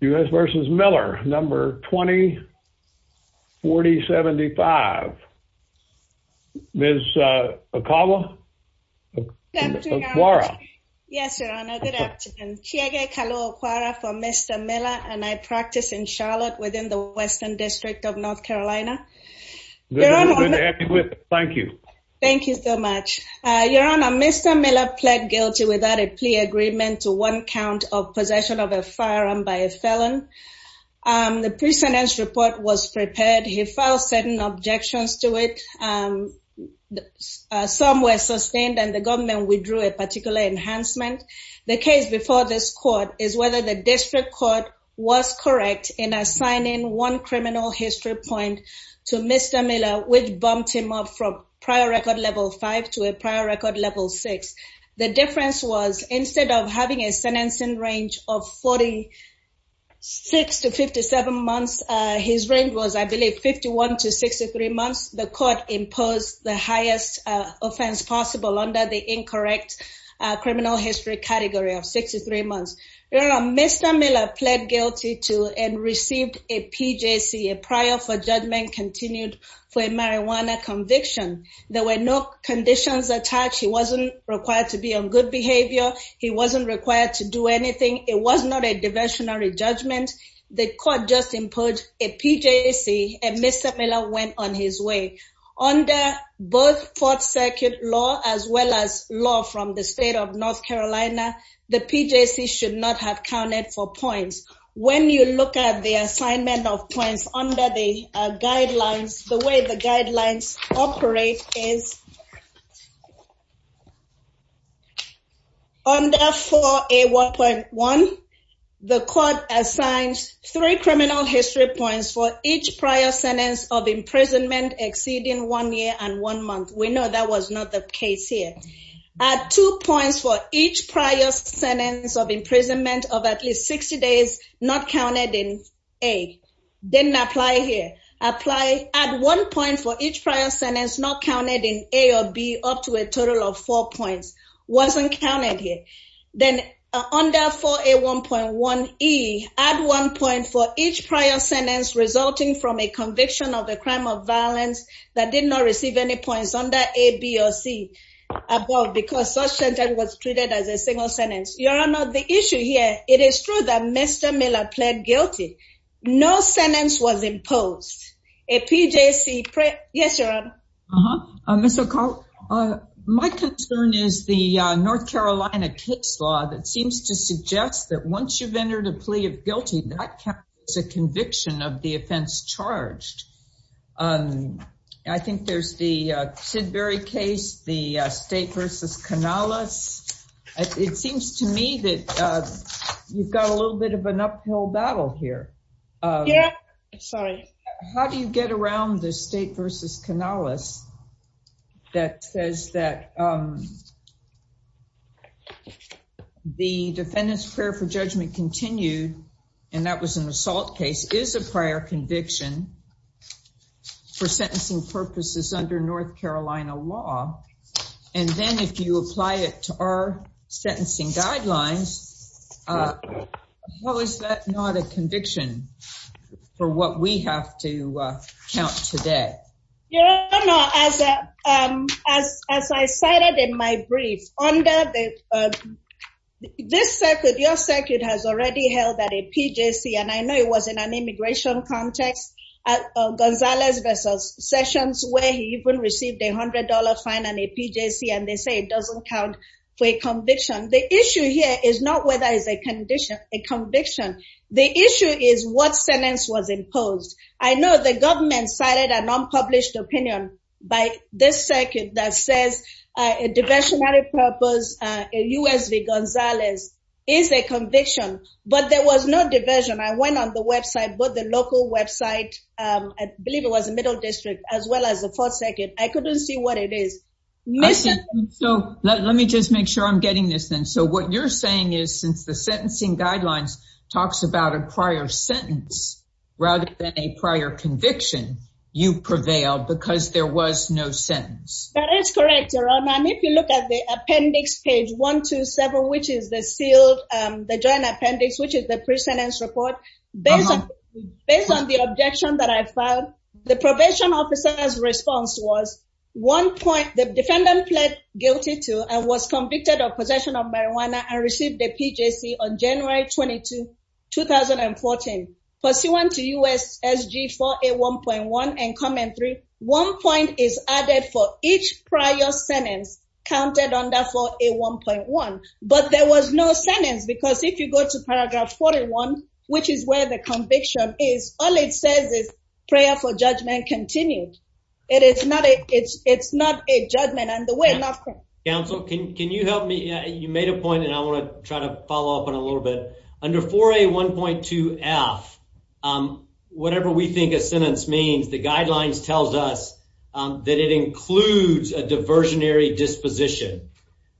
U. S. Versus Miller number 20 40 75. There's, uh, a cobbler. Okay, Laura. Yes, Your Honor. Good afternoon. Check it. Hello. Quarra for Mr Miller and I practice in Charlotte within the Western District of North Carolina. Thank you. Thank you so much, Your Honor. Mr Miller pled guilty without a plea agreement to one count of possession of a firearm by a felon. Um, the precedence report was prepared. He filed certain objections to it. Um, somewhere sustained, and the government withdrew a particular enhancement. The case before this court is whether the district court was correct in assigning one criminal history point to Mr Miller, which bumped him up from prior record level five to a prior record level six. The difference was instead of having a sentencing range of 46 to 57 months, his range was, I believe, 51 to 63 months. The court imposed the highest offense possible under the incorrect criminal history category of 63 months. Mr Miller pled guilty to and received a P. J. C. A no conditions attached. He wasn't required to be on good behavior. He wasn't required to do anything. It was not a diversionary judgment. The court just imposed a P. J. C. And Mr Miller went on his way on the both fourth circuit law as well as law from the state of North Carolina. The P. J. C. should not have counted for points. When you look at the assignment of points under the guidelines, the way the guidelines operate is under 4A1.1, the court assigns three criminal history points for each prior sentence of imprisonment exceeding one year and one month. We know that was not the case here. Two points for each prior sentence of imprisonment of at least 60 days, not counted in a didn't apply here. Apply at one point for each prior sentence, not counted in a or b up to a total of four points wasn't counted here. Then under 4A1.1 E at one point for each prior sentence resulting from a conviction of the crime of violence that did not receive any points under a B or C above because such intent was treated as a single sentence. You're Mr Miller pled guilty. No sentence was imposed. A P. J. C. Yes, you're on. Uh, Mr Carl. Uh, my concern is the North Carolina case law that seems to suggest that once you've entered a plea of guilty, that is a conviction of the offense charged. Um, I think there's the Sidbury case, the state versus canalis. It seems to me that you've got a little bit of an uphill battle here. Yeah, sorry. How do you get around the state versus canalis? That says that, um, the defendant's prayer for judgment continued, and that was an assault case is a prior conviction for sentencing purposes under North Carolina law. And then if you apply it to our sentencing guidelines, uh, how is that not a conviction for what we have to count today? You know, as a as as I cited in my brief under the, uh, this circuit, your circuit has already held that a P. J. C. And I know it was in an immigration context. Uh, Gonzalez sessions where he even received a $100 fine and a P. J. C. And they say it doesn't count for a conviction. The issue here is not whether it's a condition, a conviction. The issue is what sentence was imposed. I know the government cited an unpublished opinion by this circuit that says a diversionary purpose. Uh, U. S. V. Gonzalez is a conviction, but there was no diversion. I went on the website, but the local website, um, I believe it was a middle district as well as the fourth circuit. I couldn't see what it is missing. So let me just make sure I'm getting this then. So what you're saying is, since the sentencing guidelines talks about a prior sentence rather than a prior conviction, you prevailed because there was no sentence. That is correct, Your Honor. And if you look at the appendix page 1 to several, which is the sealed the joint appendix, which is the prison and support based based on the objection that I found the probation officer's response was one point. The defendant pled guilty to and was convicted of possession of marijuana and received a P. J. C. On January 22, 2000 and 14 pursuant to U. S. S. G. 481.1 and comment three. One point is added for each prior sentence counted under 481.1. But there was no sentence, because if you go to paragraph 41, which is where the conviction is, all it says is prayer for judgment. Continued. It is not. It's not a judgment on the way. Not council. Can you help me? You made a point, and I want to try to follow up in a little bit under four a 1.2 F. Um, whatever we think a sentence means, the guidelines tells us that it includes a diversionary disposition.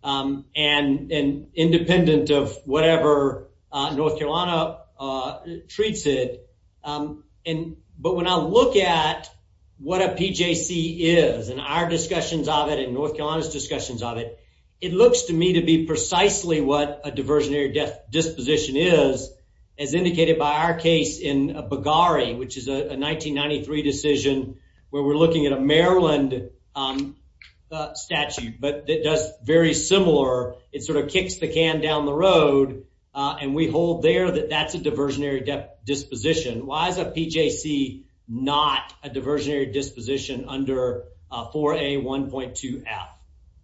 Um, and independent of whatever North Carolina, uh, treats it. Um, and but when I look at what a P. J. C. Is and our discussions of it in North Carolina's discussions of it, it looks to me to be precisely what a diversionary death disposition is, as indicated by our case in Bugari, which is a 1993 decision where we're looking at a Maryland, um, statute, but it does very similar. It sort of kicks the can down the road, and we hold there that that's a diversionary death disposition. Why is a P. J. C. Not a diversionary disposition under four a 1.2 out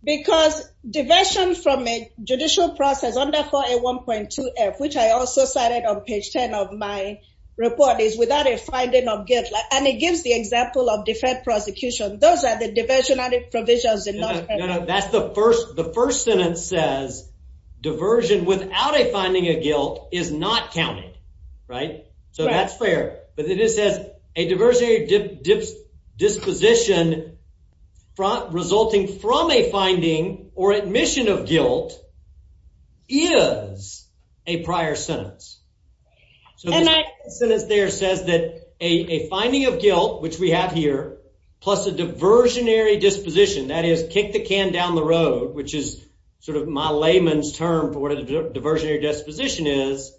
because diversion from a judicial process under four a 1.2 F, which I also cited on page 10 of my report is without a finding of gift, and it gives the example of different prosecution. Those are the first sentence says diversion without a finding of guilt is not counted, right? So that's fair. But it is, says a diversionary dips disposition resulting from a finding or admission of guilt is a prior sentence. So that sentence there says that a finding of guilt, which we have here, plus a can down the road, which is sort of my layman's term for what a diversionary disposition is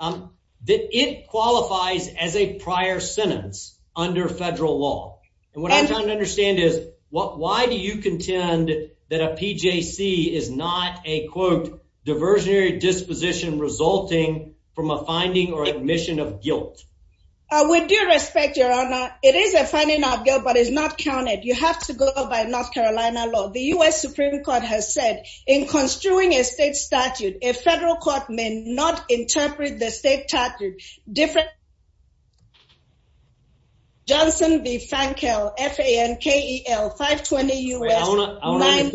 that it qualifies as a prior sentence under federal law. And what I'm trying to understand is what? Why do you contend that a P. J. C. Is not a quote diversionary disposition resulting from a finding or admission of guilt? We do respect your honor. It is a funny not guilt, but it's not counted. You have to go by North Carolina law. The U. S. Supreme Court has said in construing a state statute, a federal court may not interpret the state tactic different. Johnson B. Frank L. F A. N. K. E. L. 5 20 U. S. Let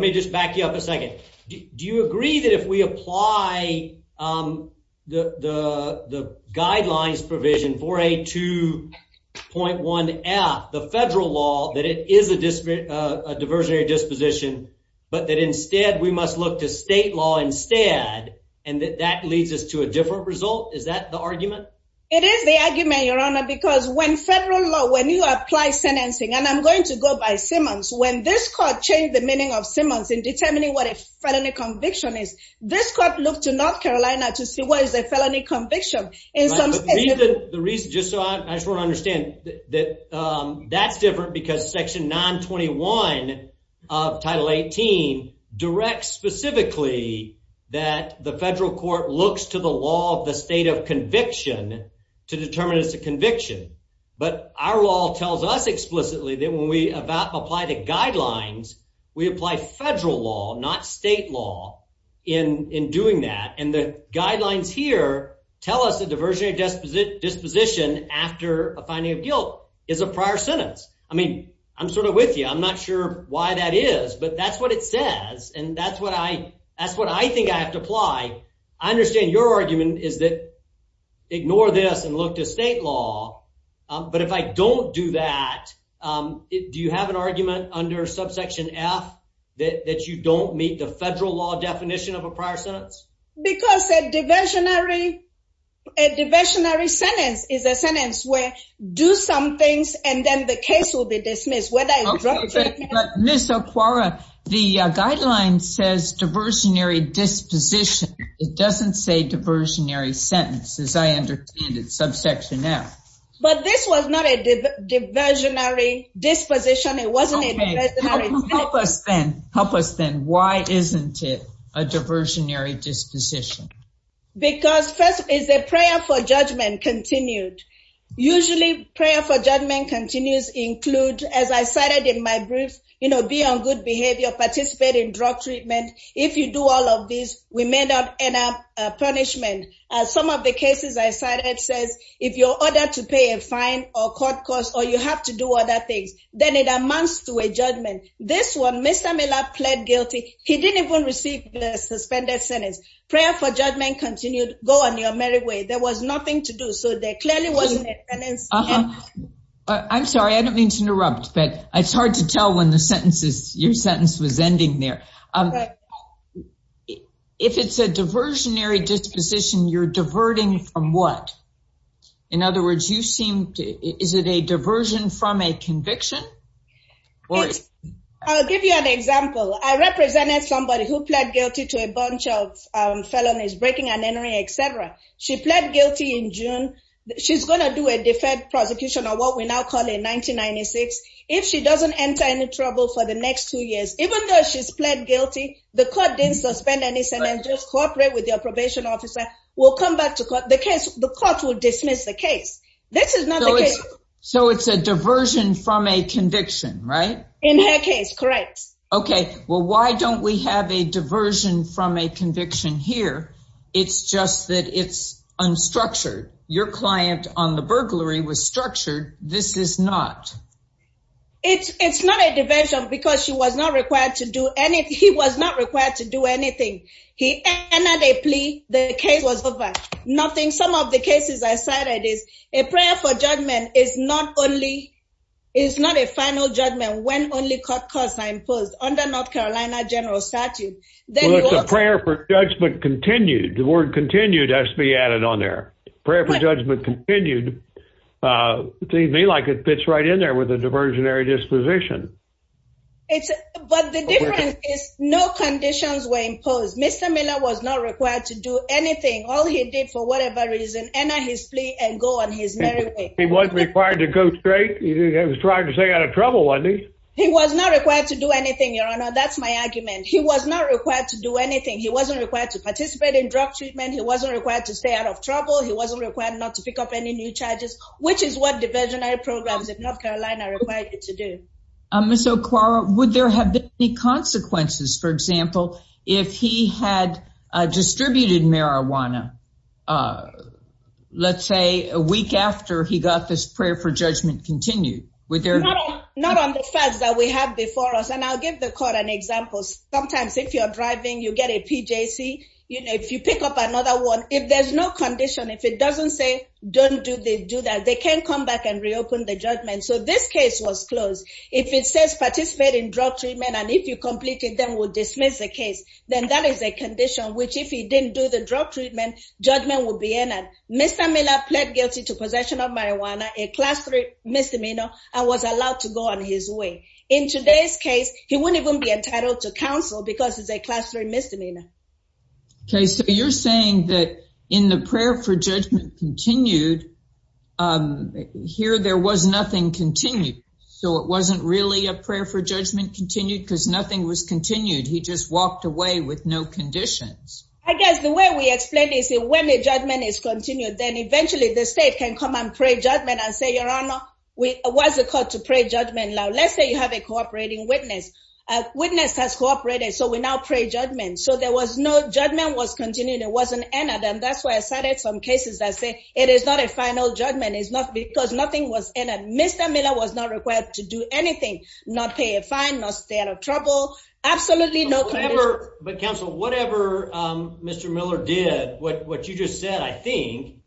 me just back you up a second. Do you agree that if we apply, um, the the guidelines provision for a 2.1 at the federal law that it is a disparate, a diversionary disposition, but that instead we must look to state law instead, and that that leads us to a different result. Is that the argument? It is the argument, Your Honor, because when federal law when you apply sentencing and I'm going to go by Simmons, when this court changed the meaning of Simmons in determining what a felony conviction is, this court looked to North Carolina to see what is a felony conviction in the reason just so I just wanna understand that that's different because Section 9 21 of Title 18 directs specifically that the federal court looks to the law of the state of conviction to determine it's a conviction. But our law tells us explicitly that when we about apply the guidelines, we apply federal law, not state law in in doing that. And the guidelines here tell us the diversionary disposition after a finding of guilt is a prior sentence. I mean, I'm sort of with you. I'm not sure why that is, but that's what it says. And that's what I that's what I think I have to apply. I understand your argument is that ignore this and look to state law. But if I don't do that, do you have an argument under subsection F that you don't meet the federal law definition of a prior because a diversionary a diversionary sentence is a sentence where do some things and then the case will be dismissed. Whether I miss a quora, the guideline says diversionary disposition. It doesn't say diversionary sentences. I understand it's subsection F, but this was not a diversionary disposition. It wasn't help us then. Help us then. Why isn't it a diversionary disposition? Because first is a prayer for judgment continued. Usually prayer for judgment continues include, as I cited in my brief, you know, be on good behavior, participate in drug treatment. If you do all of these, we may not end up punishment. Some of the cases I cited says if you're ordered to pay a fine or court costs, or you have to do other things, then it amounts to a judgment. This one, Mr. Miller pled guilty. He didn't even receive the suspended sentence. Prayer for judgment continued. Go on your merry way. There was nothing to do. So there clearly wasn't a penance. I'm sorry, I don't mean to interrupt, but it's hard to tell when the sentences, your sentence was ending there. If it's a diversionary disposition, you're diverting from what? In other words, you seem to, is it a diversion from a conviction? I'll give you an example. I represented somebody who pled guilty to a bunch of felonies, breaking and entering, etc. She pled guilty in June. She's going to do a deferred prosecution on what we now call a 1996. If she doesn't enter any trouble for the next two years, even though she's pled guilty, the court didn't suspend any sentence, just cooperate with your probation officer, will come back to court. The case, the court will dismiss the case. This is not the case. So it's a diversion from a conviction, right? In her case, correct. Okay, well, why don't we have a diversion from a conviction here? It's just that it's unstructured. Your client on the burglary was structured. This is not. It's not a diversion because she was not required to do anything. He was not required to do anything. He entered a plea. The case was over. Nothing. Some of the cases I cited is a prayer for judgment is not only is not a final judgment when only caught cause I imposed on the North Carolina general statute. There was a prayer for judgment continued. The word continued has to be added on their prayer for judgment continued. They may like it fits right in there with a diversionary disposition. It's but the difference is no conditions were imposed. Mr Miller was not required to do anything. All he did for whatever reason and his plea and go on his merry way. He wasn't required to go straight. He was trying to stay out of trouble one day. He was not required to do anything. Your honor. That's my argument. He was not required to do anything. He wasn't required to participate in drug treatment. He wasn't required to stay out of trouble. He wasn't required not to pick up any new charges, which is what diversionary North Carolina required to do. Um, so, Clara, would there have been any consequences, for example, if he had distributed marijuana? Uh, let's say a week after he got this prayer for judgment continued with their not on the facts that we have before us. And I'll give the court an example. Sometimes if you're driving, you get a P. J. C. You know, if you pick up another one, if there's no condition, if it doesn't say don't do they do that, they can come back and reopen the judgment. So this case was closed. If it says participate in drug treatment, and if you completed them will dismiss the case. Then that is a condition which, if he didn't do the drug treatment, judgment will be in it. Mr Miller pled guilty to possession of marijuana, a class three misdemeanor. I was allowed to go on his way. In today's case, he wouldn't even be entitled to counsel because it's a class three misdemeanor. Okay, so you're saying that in the prayer for judgment continued, um, here there was nothing continued. So it wasn't really a prayer for judgment continued because nothing was continued. He just walked away with no conditions. I guess the way we explain is when the judgment is continued, then eventually the state can come and pray judgment and say, Your Honor, we was a call to pray judgment. Now let's say you have a cooperating witness. Witness has cooperated, so we now pray judgment. So there was no judgment was continued. It wasn't entered, and that's why I cited some cases that say it is not a final judgment is not because nothing was in it. Mr Miller was not required to do anything, not pay a fine must stay out of trouble. Absolutely no, whatever. But Council, whatever Mr Miller did what you just said, I think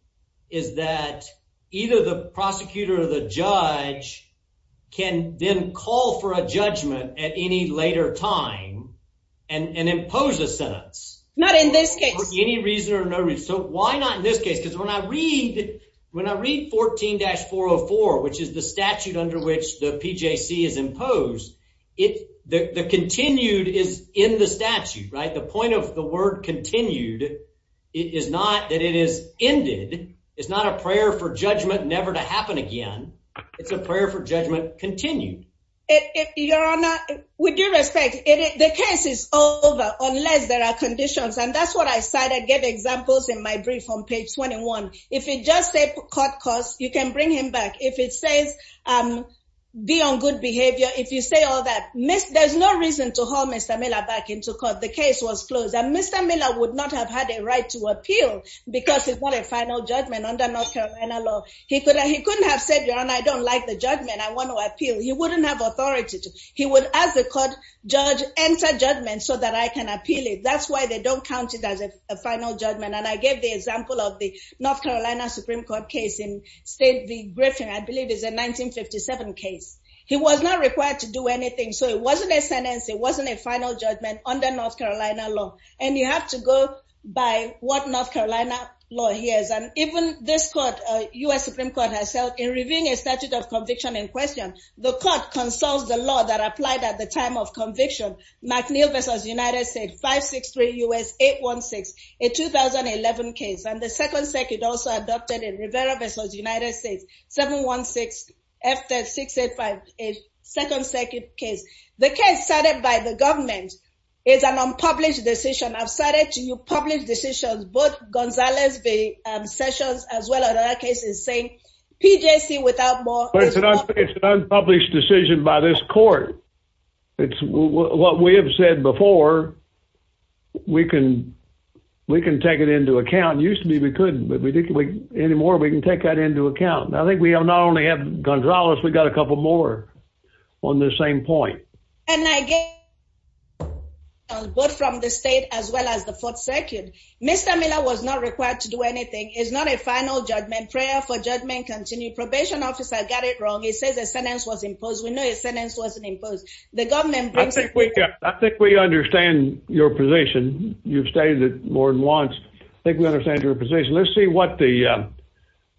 is that either the prosecutor or the judge can then call for a judgment at any later time and impose a sentence. Not in this case, any reason or no reason. So why not in this case? Because when I read when I read 14 dash 404, which is the statute under which the P. J. C. Is imposed it. The continued is in the statute, right? The point of the word continued is not that it is ended. It's not a prayer for judgment never to continue. Your Honor, we do respect it. The case is over unless there are conditions, and that's what I cited. Get examples in my brief on page 21. If you just say court costs, you can bring him back. If it says, um, be on good behavior. If you say all that miss, there's no reason to hold Mr Miller back into court. The case was closed and Mr Miller would not have had a right to appeal because it's not a final judgment under North Carolina law. He could. He couldn't have said, You know, I don't like the judgment. I want to appeal. You wouldn't have authority. He would, as a court judge, enter judgment so that I can appeal it. That's why they don't count it as a final judgment. And I gave the example of the North Carolina Supreme Court case in state. The Griffin, I believe, is a 1957 case. He was not required to do anything. So it wasn't a sentence. It wasn't a final judgment under North Carolina law. And you have to go by what North Carolina law here is. And even this court, U. S. Supreme Court herself in reviewing a statute of conviction in question, the court consults the law that applied at the time of conviction. McNeil versus United States 563 U. S. 816 in 2011 case and the Second Circuit also adopted in Rivera versus United States 716 after 685. A second circuit case. The case started by the government is an unpublished decision. I've started to you publish decisions. Both Gonzalez the sessions as well. In that case is saying P. J. C. Without more published decision by this court. It's what we have said before. We can we can take it into account. Used to be we couldn't, but we didn't wait anymore. We can take that into account. I think we have not only have Gonzalez, we got a couple more on the same point. And I get both from the state as well as the Fourth Circuit. Mr Miller was not required to do anything is not a final judgment prayer for judgment. Continue probation officer. Got it wrong. He says the sentence was imposed. We know his sentence wasn't imposed. The government. I think we understand your position. You've stated more than once. I think we understand your position. Let's see what the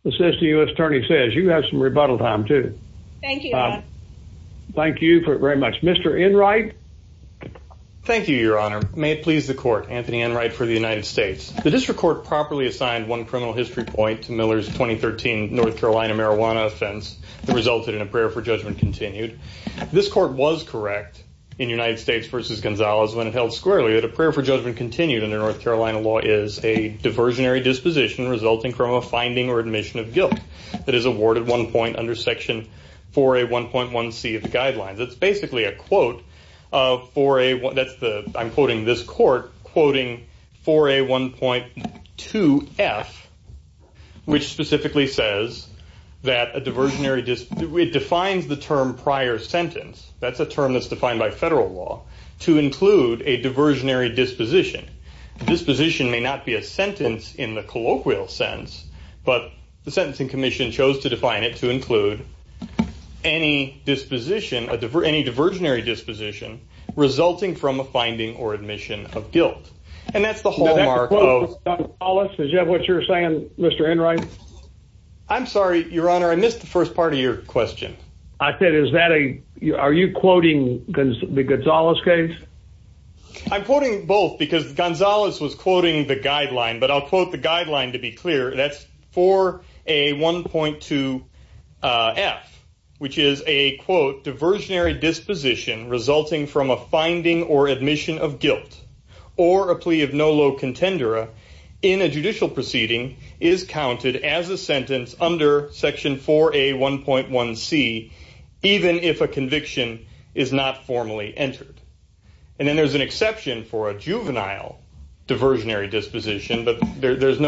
assistant U. S. Attorney says. You have some rebuttal time, too. Thank you. Thank you very much, Mr. In right. Thank you, Your Honor. May it please the court. Anthony and right for the United States. The district court properly assigned one criminal history point to Miller's 2013 North Carolina marijuana offense that resulted in a prayer for judgment continued. This court was correct in United States versus Gonzalez when it held squarely that a prayer for judgment continued in the North Carolina law is a diversionary disposition resulting from a finding or admission of guilt that is awarded one point under section for a 1.1 C of the guidelines. It's basically a quote for a what? That's the I'm quoting this court quoting for a 1.2 F, which specifically says that a diversionary just defines the term prior sentence. That's a term that's defined by federal law to include a diversionary disposition. Disposition may not be a sentence in the colloquial sense, but the Sentencing Commission chose to define it to include any disposition of any diversionary disposition resulting from a finding or admission of guilt. And that's the hallmark of all us. Did you have what you're saying, Mr In right? I'm sorry, Your Honor. I missed the first part of your question. I said, Is that a are you quoting the Gonzalez case? I'm quoting both because Gonzalez was quoting the guideline, but I'll quote the guideline to be clear. That's for a 1.2 F, which is a quote. Diversionary disposition resulting from a finding or admission of guilt or a plea of no low contender in a judicial proceeding is counted as a sentence under section for a 1.1 C, even if a conviction is not formally entered. And then there's an there's no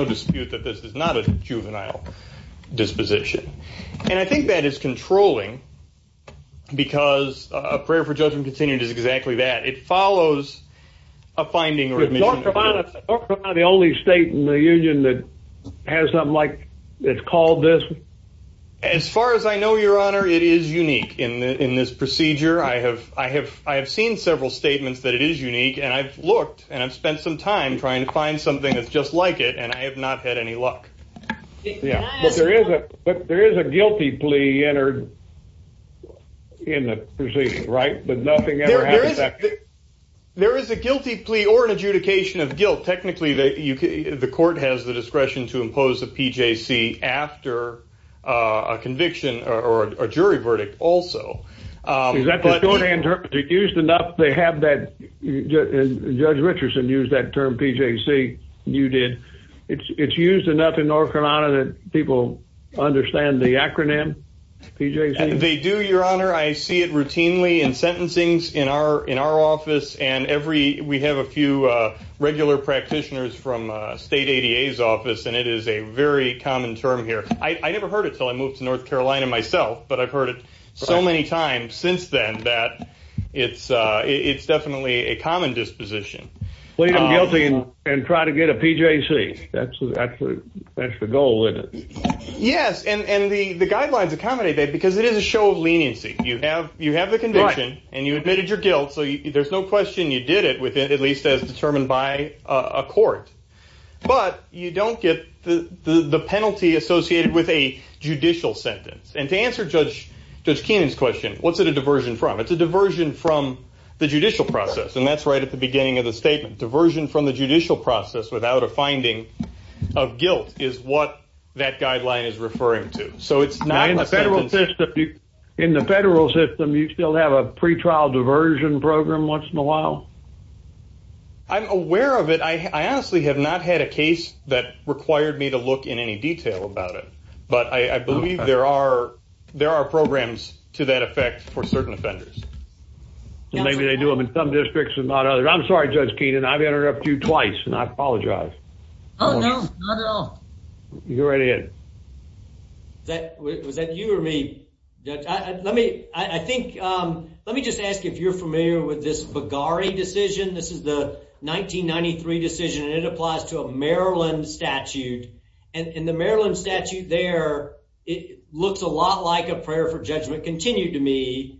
dispute that this is not a juvenile disposition. And I think that is controlling because a prayer for judgment continued is exactly that. It follows a finding or the only state in the union that has something like it's called this. As far as I know, Your Honor, it is unique in this procedure. I have. I have. I have seen several statements that it is unique, and I've looked and I've spent some time trying to find something that's just like it. And I have not had any luck. Yeah, there is. But there is a guilty plea entered in the proceedings, right? But nothing ever. There is a guilty plea or an adjudication of guilt. Technically, the court has the discretion to impose a PJC after a conviction or a jury verdict. Also, is that going to interpret it used enough? They have that. Judge Richardson used that term PJC. You did. It's used enough in North Carolina that people understand the acronym PJC. They do, Your Honor. I see it routinely in sentencing's in our in our office and every we have a few regular practitioners from state ADA's office, and it is a very common term here. I never heard it till I moved to North Carolina myself, but I've heard it so many times since then that it's definitely a common disposition. Plead guilty and try to get a PJC. That's that's that's the goal, isn't it? Yes. And the guidelines accommodate that because it is a show of leniency. You have you have the conviction and you admitted your guilt. So there's no question you did it with it, at least as determined by a court. But you don't get the penalty associated with a judicial sentence. And to answer Judge Kenan's question, what's it a diversion from the judicial process? And that's right at the beginning of the statement. Diversion from the judicial process without a finding of guilt is what that guideline is referring to. So it's not in the federal system. In the federal system, you still have a pretrial diversion program once in a while. I'm aware of it. I honestly have not had a case that required me to look in any detail about it, but I believe there are there are effects for certain offenders. Maybe they do them in some districts and not others. I'm sorry, Judge Kenan. I've had it up to you twice and I apologize. Oh, no, not at all. You go right ahead. That was that you or me? Let me I think let me just ask if you're familiar with this Bugari decision. This is the 1993 decision, and it applies to a Maryland statute. And in the Maryland statute there, it looks a lot like a prayer for me.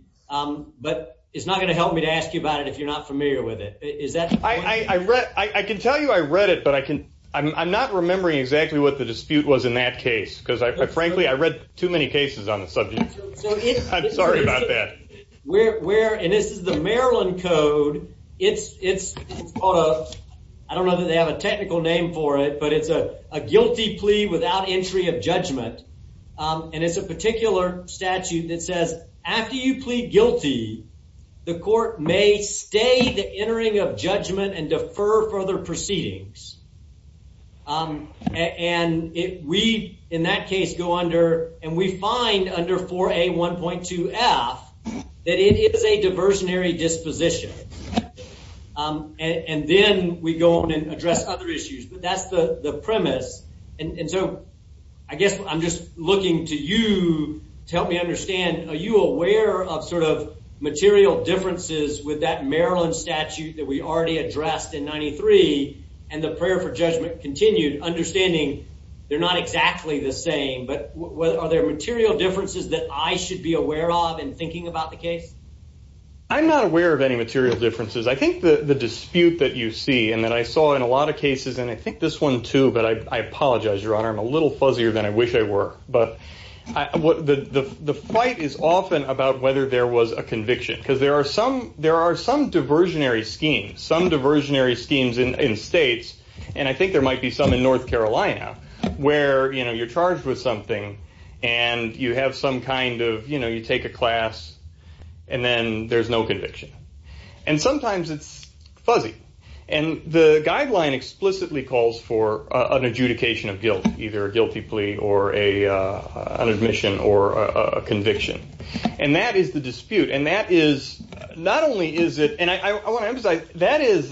But it's not gonna help me to ask you about it if you're not familiar with it. Is that I read? I can tell you I read it, but I can. I'm not remembering exactly what the dispute was in that case, because, frankly, I read too many cases on the subject. I'm sorry about that. Where? And this is the Maryland code. It's it's I don't know that they have a technical name for it, but it's a guilty plea without entry of judgment. And it's a you plead guilty, the court may stay the entering of judgment and defer further proceedings. Um, and we in that case go under and we find under four a 1.2 F that it is a diversionary disposition. Um, and then we go on and address other issues. But that's the premise. And so I guess I'm just looking to you to help me of sort of material differences with that Maryland statute that we already addressed in 93 and the prayer for judgment continued understanding they're not exactly the same. But are there material differences that I should be aware of in thinking about the case? I'm not aware of any material differences. I think the dispute that you see and that I saw in a lot of cases, and I think this one, too. But I apologize, Your Honor. I'm a little there was a conviction because there are some there are some diversionary schemes, some diversionary schemes in states. And I think there might be some in North Carolina where you know you're charged with something and you have some kind of you know, you take a class and then there's no conviction. And sometimes it's fuzzy. And the guideline explicitly calls for an adjudication of the dispute. And that is not only is it and I want to say that is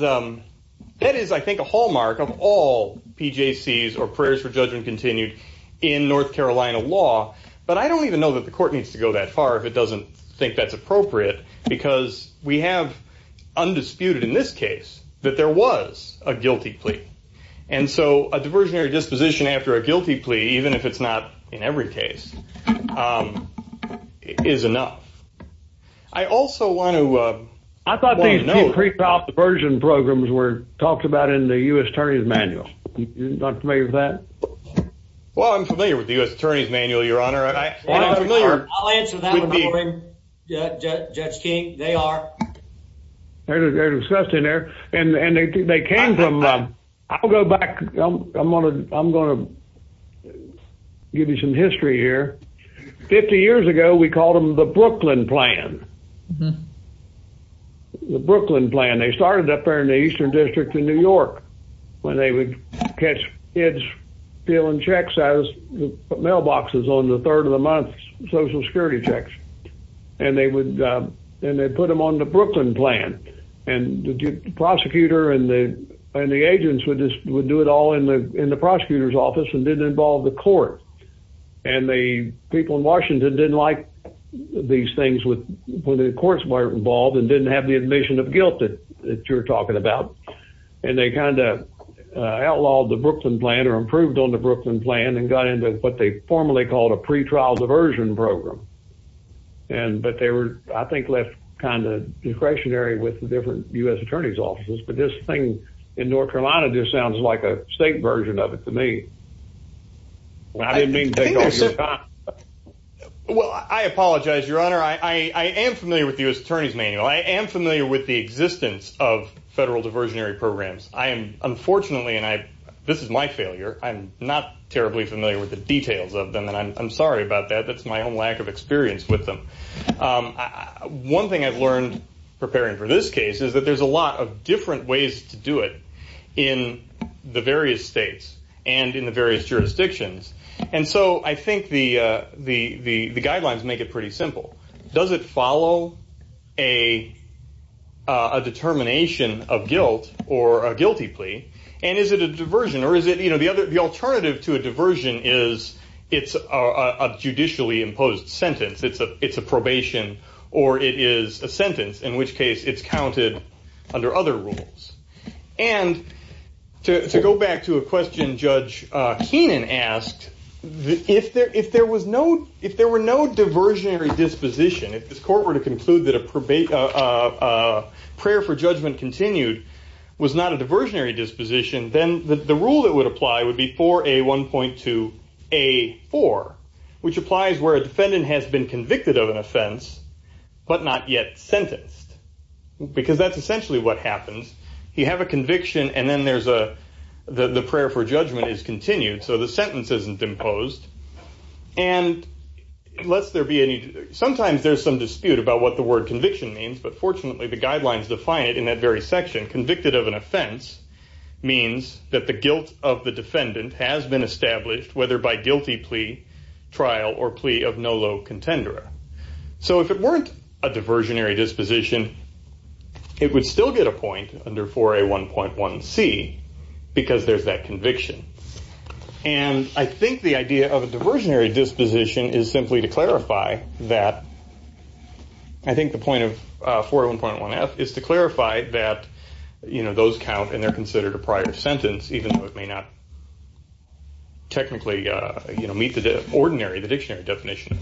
that is, I think, a hallmark of all PJCs or prayers for judgment continued in North Carolina law. But I don't even know that the court needs to go that far if it doesn't think that's appropriate, because we have undisputed in this case that there was a guilty plea. And so a diversionary disposition after a guilty plea, even if it's not in every case, um, is enough. I also want to, uh, I thought these three top diversion programs were talked about in the U. S. Attorney's manual. Not for me that well, I'm familiar with the U. S. Attorney's manual, Your Honor. I answer that. Judge King. They are. They're disgusting there, and they came from. I'll go back. I'm gonna I'm gonna give you some history here. 50 years ago, we called him the Brooklyn plan. The Brooklyn plan. They started up there in the eastern district in New York when they would catch kids feeling checks as mailboxes on the third of the month, social security checks. And they would, and they put him on the Brooklyn plan. And the prosecutor and the and the agents would just would do it all in in the prosecutor's office and didn't involve the court. And the people in Washington didn't like these things with when the courts weren't involved and didn't have the admission of guilt that you're talking about. And they kind of outlawed the Brooklyn plan or improved on the Brooklyn plan and got into what they formally called a pretrial diversion program. And but they were, I think, left kind of discretionary with different U. S. Attorney's offices. But this thing in North Carolina just sounds like a state version of it to me. Well, I didn't mean to. Well, I apologize, Your Honor. I am familiar with U. S. Attorney's manual. I am familiar with the existence of federal diversionary programs. I am unfortunately, and I this is my failure. I'm not terribly familiar with the details of them, and I'm sorry about that. That's my own lack of experience with them. Um, one thing I've learned preparing for this case is that there's a lot of different ways to do it in the various states and in the various jurisdictions. And so I think the guidelines make it pretty simple. Does it follow a determination of guilt or a guilty plea? And is it a diversion? Or is it, you know, the other? The alternative to a diversion is it's a judicially imposed sentence. It's a probation or it is a sentence, in which case it's counted under other rules. And to go back to a question Judge Keenan asked if there if there was no if there were no diversionary disposition, if this court were to conclude that a prayer for judgment continued was not a diversionary disposition, then the rule that would apply would be for a 1.2 a four, which applies where a defendant has been because that's essentially what happens. You have a conviction, and then there's a the prayer for judgment is continued. So the sentence isn't imposed. And unless there be any, sometimes there's some dispute about what the word conviction means. But fortunately, the guidelines define it in that very section. Convicted of an offense means that the guilt of the defendant has been established, whether by guilty plea, trial or plea of no contender. So if it weren't a diversionary disposition, it would still get a point under for a 1.1 C because there's that conviction. And I think the idea of a diversionary disposition is simply to clarify that I think the point of 41.1 F is to clarify that, you know, those count and they're considered a prior sentence, even though it may not technically, you know, meet the ordinary, the dictionary definition.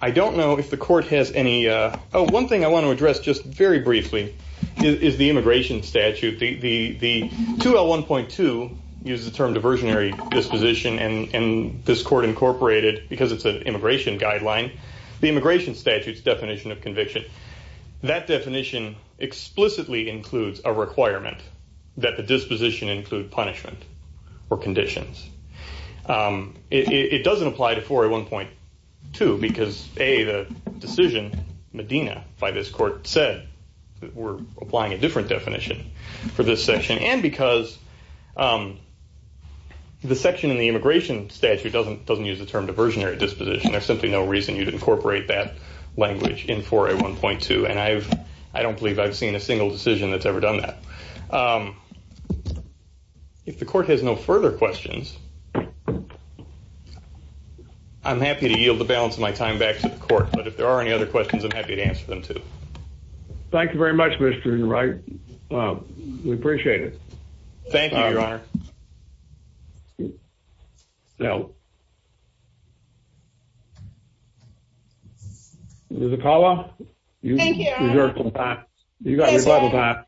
I don't know if the court has any. One thing I want to address just very briefly is the immigration statute. The 2L1.2 uses the term diversionary disposition, and this court incorporated because it's an immigration guideline, the immigration statutes definition of conviction. That definition explicitly includes a requirement that the disposition include punishment or conditions. It doesn't apply to 41.2 because a decision Medina by this court said that we're applying a different definition for this session and because the section in the immigration statute doesn't doesn't use the term diversionary disposition. There's simply no reason you'd I don't believe I've seen a single decision that's ever done that. Um, if the court has no further questions, I'm happy to yield the balance of my time back to the court. But if there are any other questions, I'm happy to answer them, too. Thank you very much, Mr. Right. We appreciate it. Thank you, Your Honor. No. The caller you thank you. You got a lot of that.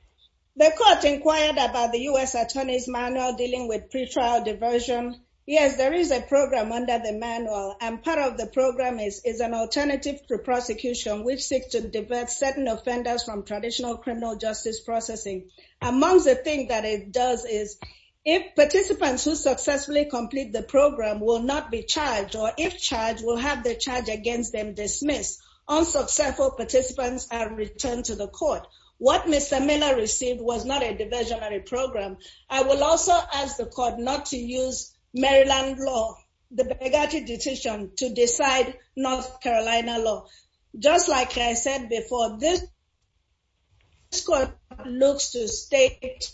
The court inquired about the U. S. Attorney's manual dealing with pre trial diversion. Yes, there is a program under the manual, and part of the program is is an alternative to prosecution, which seeks to divert certain offenders from traditional criminal justice processing. Amongst the thing that it does is if participants who successfully complete the program will not be charged or if they are charged, we'll have the charge against them dismissed. Unsuccessful participants are returned to the court. What Mr Miller received was not a diversionary program. I will also ask the court not to use Maryland law the bigoted decision to decide North Carolina law. Just like I said before, this school looks to state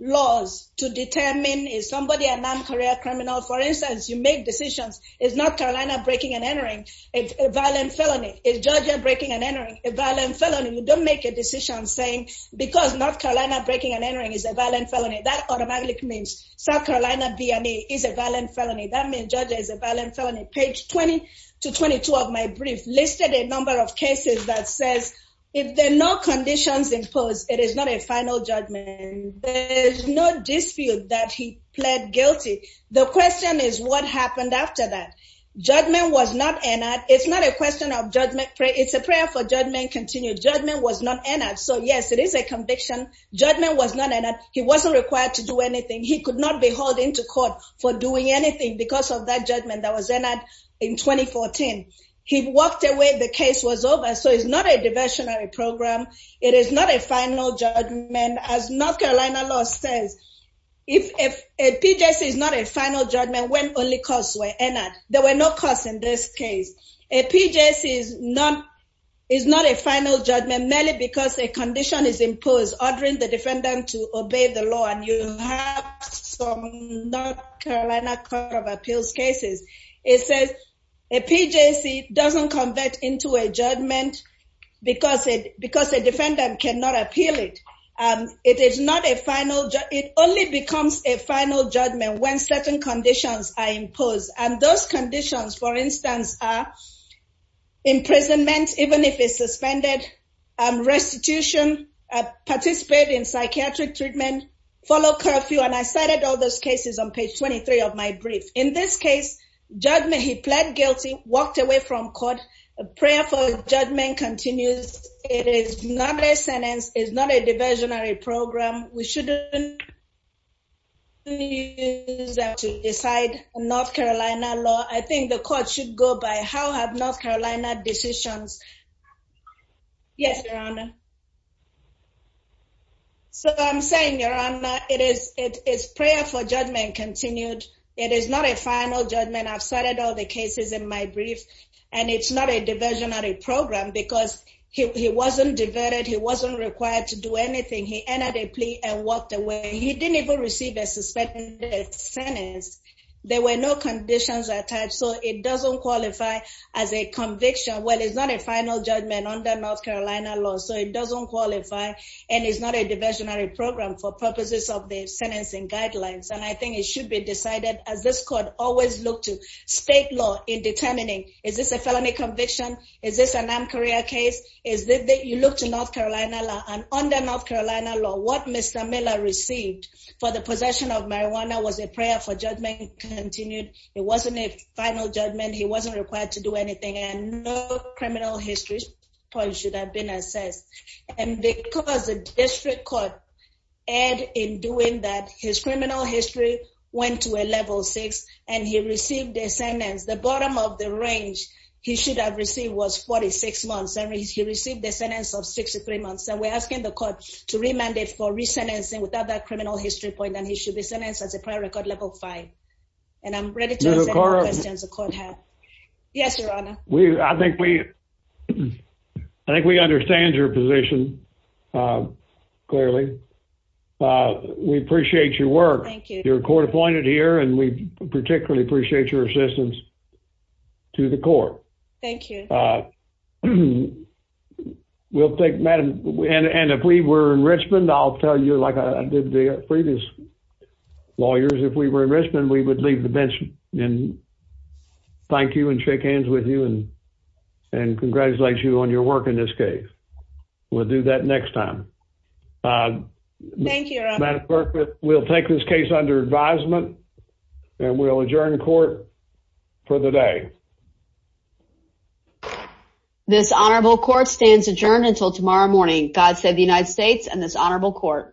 laws to determine is somebody a non career criminal? For instance, you make decisions is not Carolina breaking and entering a violent felony is Georgia breaking and entering a violent felony. You don't make a decision saying because North Carolina breaking and entering is a violent felony that automatically means South Carolina B. And he is a violent felony. That means judges a violent felony page 20 to 22 of my brief listed a number of cases that says if there are no conditions imposed, it is not a final judgment. There's no dispute that he pled guilty The question is what happened after that judgment was not in that. It's not a question of judgment. It's a prayer for judgment. Continued judgment was not in it. So yes, it is a conviction. Judgment was not in it. He wasn't required to do anything. He could not be holding to court for doing anything because of that judgment that was in that in 2014 he walked away. The case was over. So it's not a diversionary program. It is not a final judgment. As North Carolina law says, if a P. J. C. Is not a final judgment when only costs were entered. There were no costs in this case. A P. J. C. Is not is not a final judgment merely because a condition is imposed, ordering the defendant to obey the law. And you have some North Carolina Court of Appeals cases. It says a P. J. C. Doesn't convert into a judgment because because not a final. It only becomes a final judgment when certain conditions are imposed. And those conditions, for instance, are imprisonment, even if it suspended restitution, participate in psychiatric treatment, follow curfew. And I cited all those cases on page 23 of my brief. In this case judgment, he pled guilty, walked away from court. Prayerful judgment continues. It is not a sentence is not a diversionary program. We shouldn't use that to decide North Carolina law. I think the court should go by. How have North Carolina decisions? Yes, Your Honor. So I'm saying, Your Honor, it is. It is prayerful judgment continued. It is not a final judgment. I've started all the cases in my brief, and it's not a diversionary program because he wasn't diverted. He wasn't required to do anything. He entered a plea and walked away. He didn't even receive a suspected sentence. There were no conditions attached, so it doesn't qualify as a conviction. Well, it's not a final judgment on the North Carolina law, so it doesn't qualify. And it's not a diversionary program for purposes of the sentencing guidelines. And I think it should be decided as this law in determining. Is this a felony conviction? Is this a Nam Korea case? Is that you look to North Carolina law on the North Carolina law? What Mr Miller received for the possession of marijuana was a prayerful judgment continued. It wasn't a final judgment. He wasn't required to do anything, and no criminal history should have been assessed. And because the district court and in doing that, his criminal history went to a level six, and he received a sentence. The bottom of the range he should have received was 46 months. He received the sentence of 63 months, and we're asking the court to remand it for recent and sing without that criminal history point, and he should be sentenced as a prior record level five. And I'm ready to ask questions the court had. Yes, Your Honor. We I think we I think we understand your position, uh, clearly. Uh, we appreciate your work. Your court pointed here, and we particularly appreciate your assistance to the court. Thank you. Uh, we'll take madam. And if we were in Richmond, I'll tell you like I did the previous lawyers. If we were in Richmond, we would leave the bench and thank you and shake hands with you and and congratulate you on your work in this case. We'll do that next time. Uh, thank you. We'll take this case under advisement, and we'll adjourn court for the day. This honorable court stands adjourned until tomorrow morning. God said the United States and this honorable court.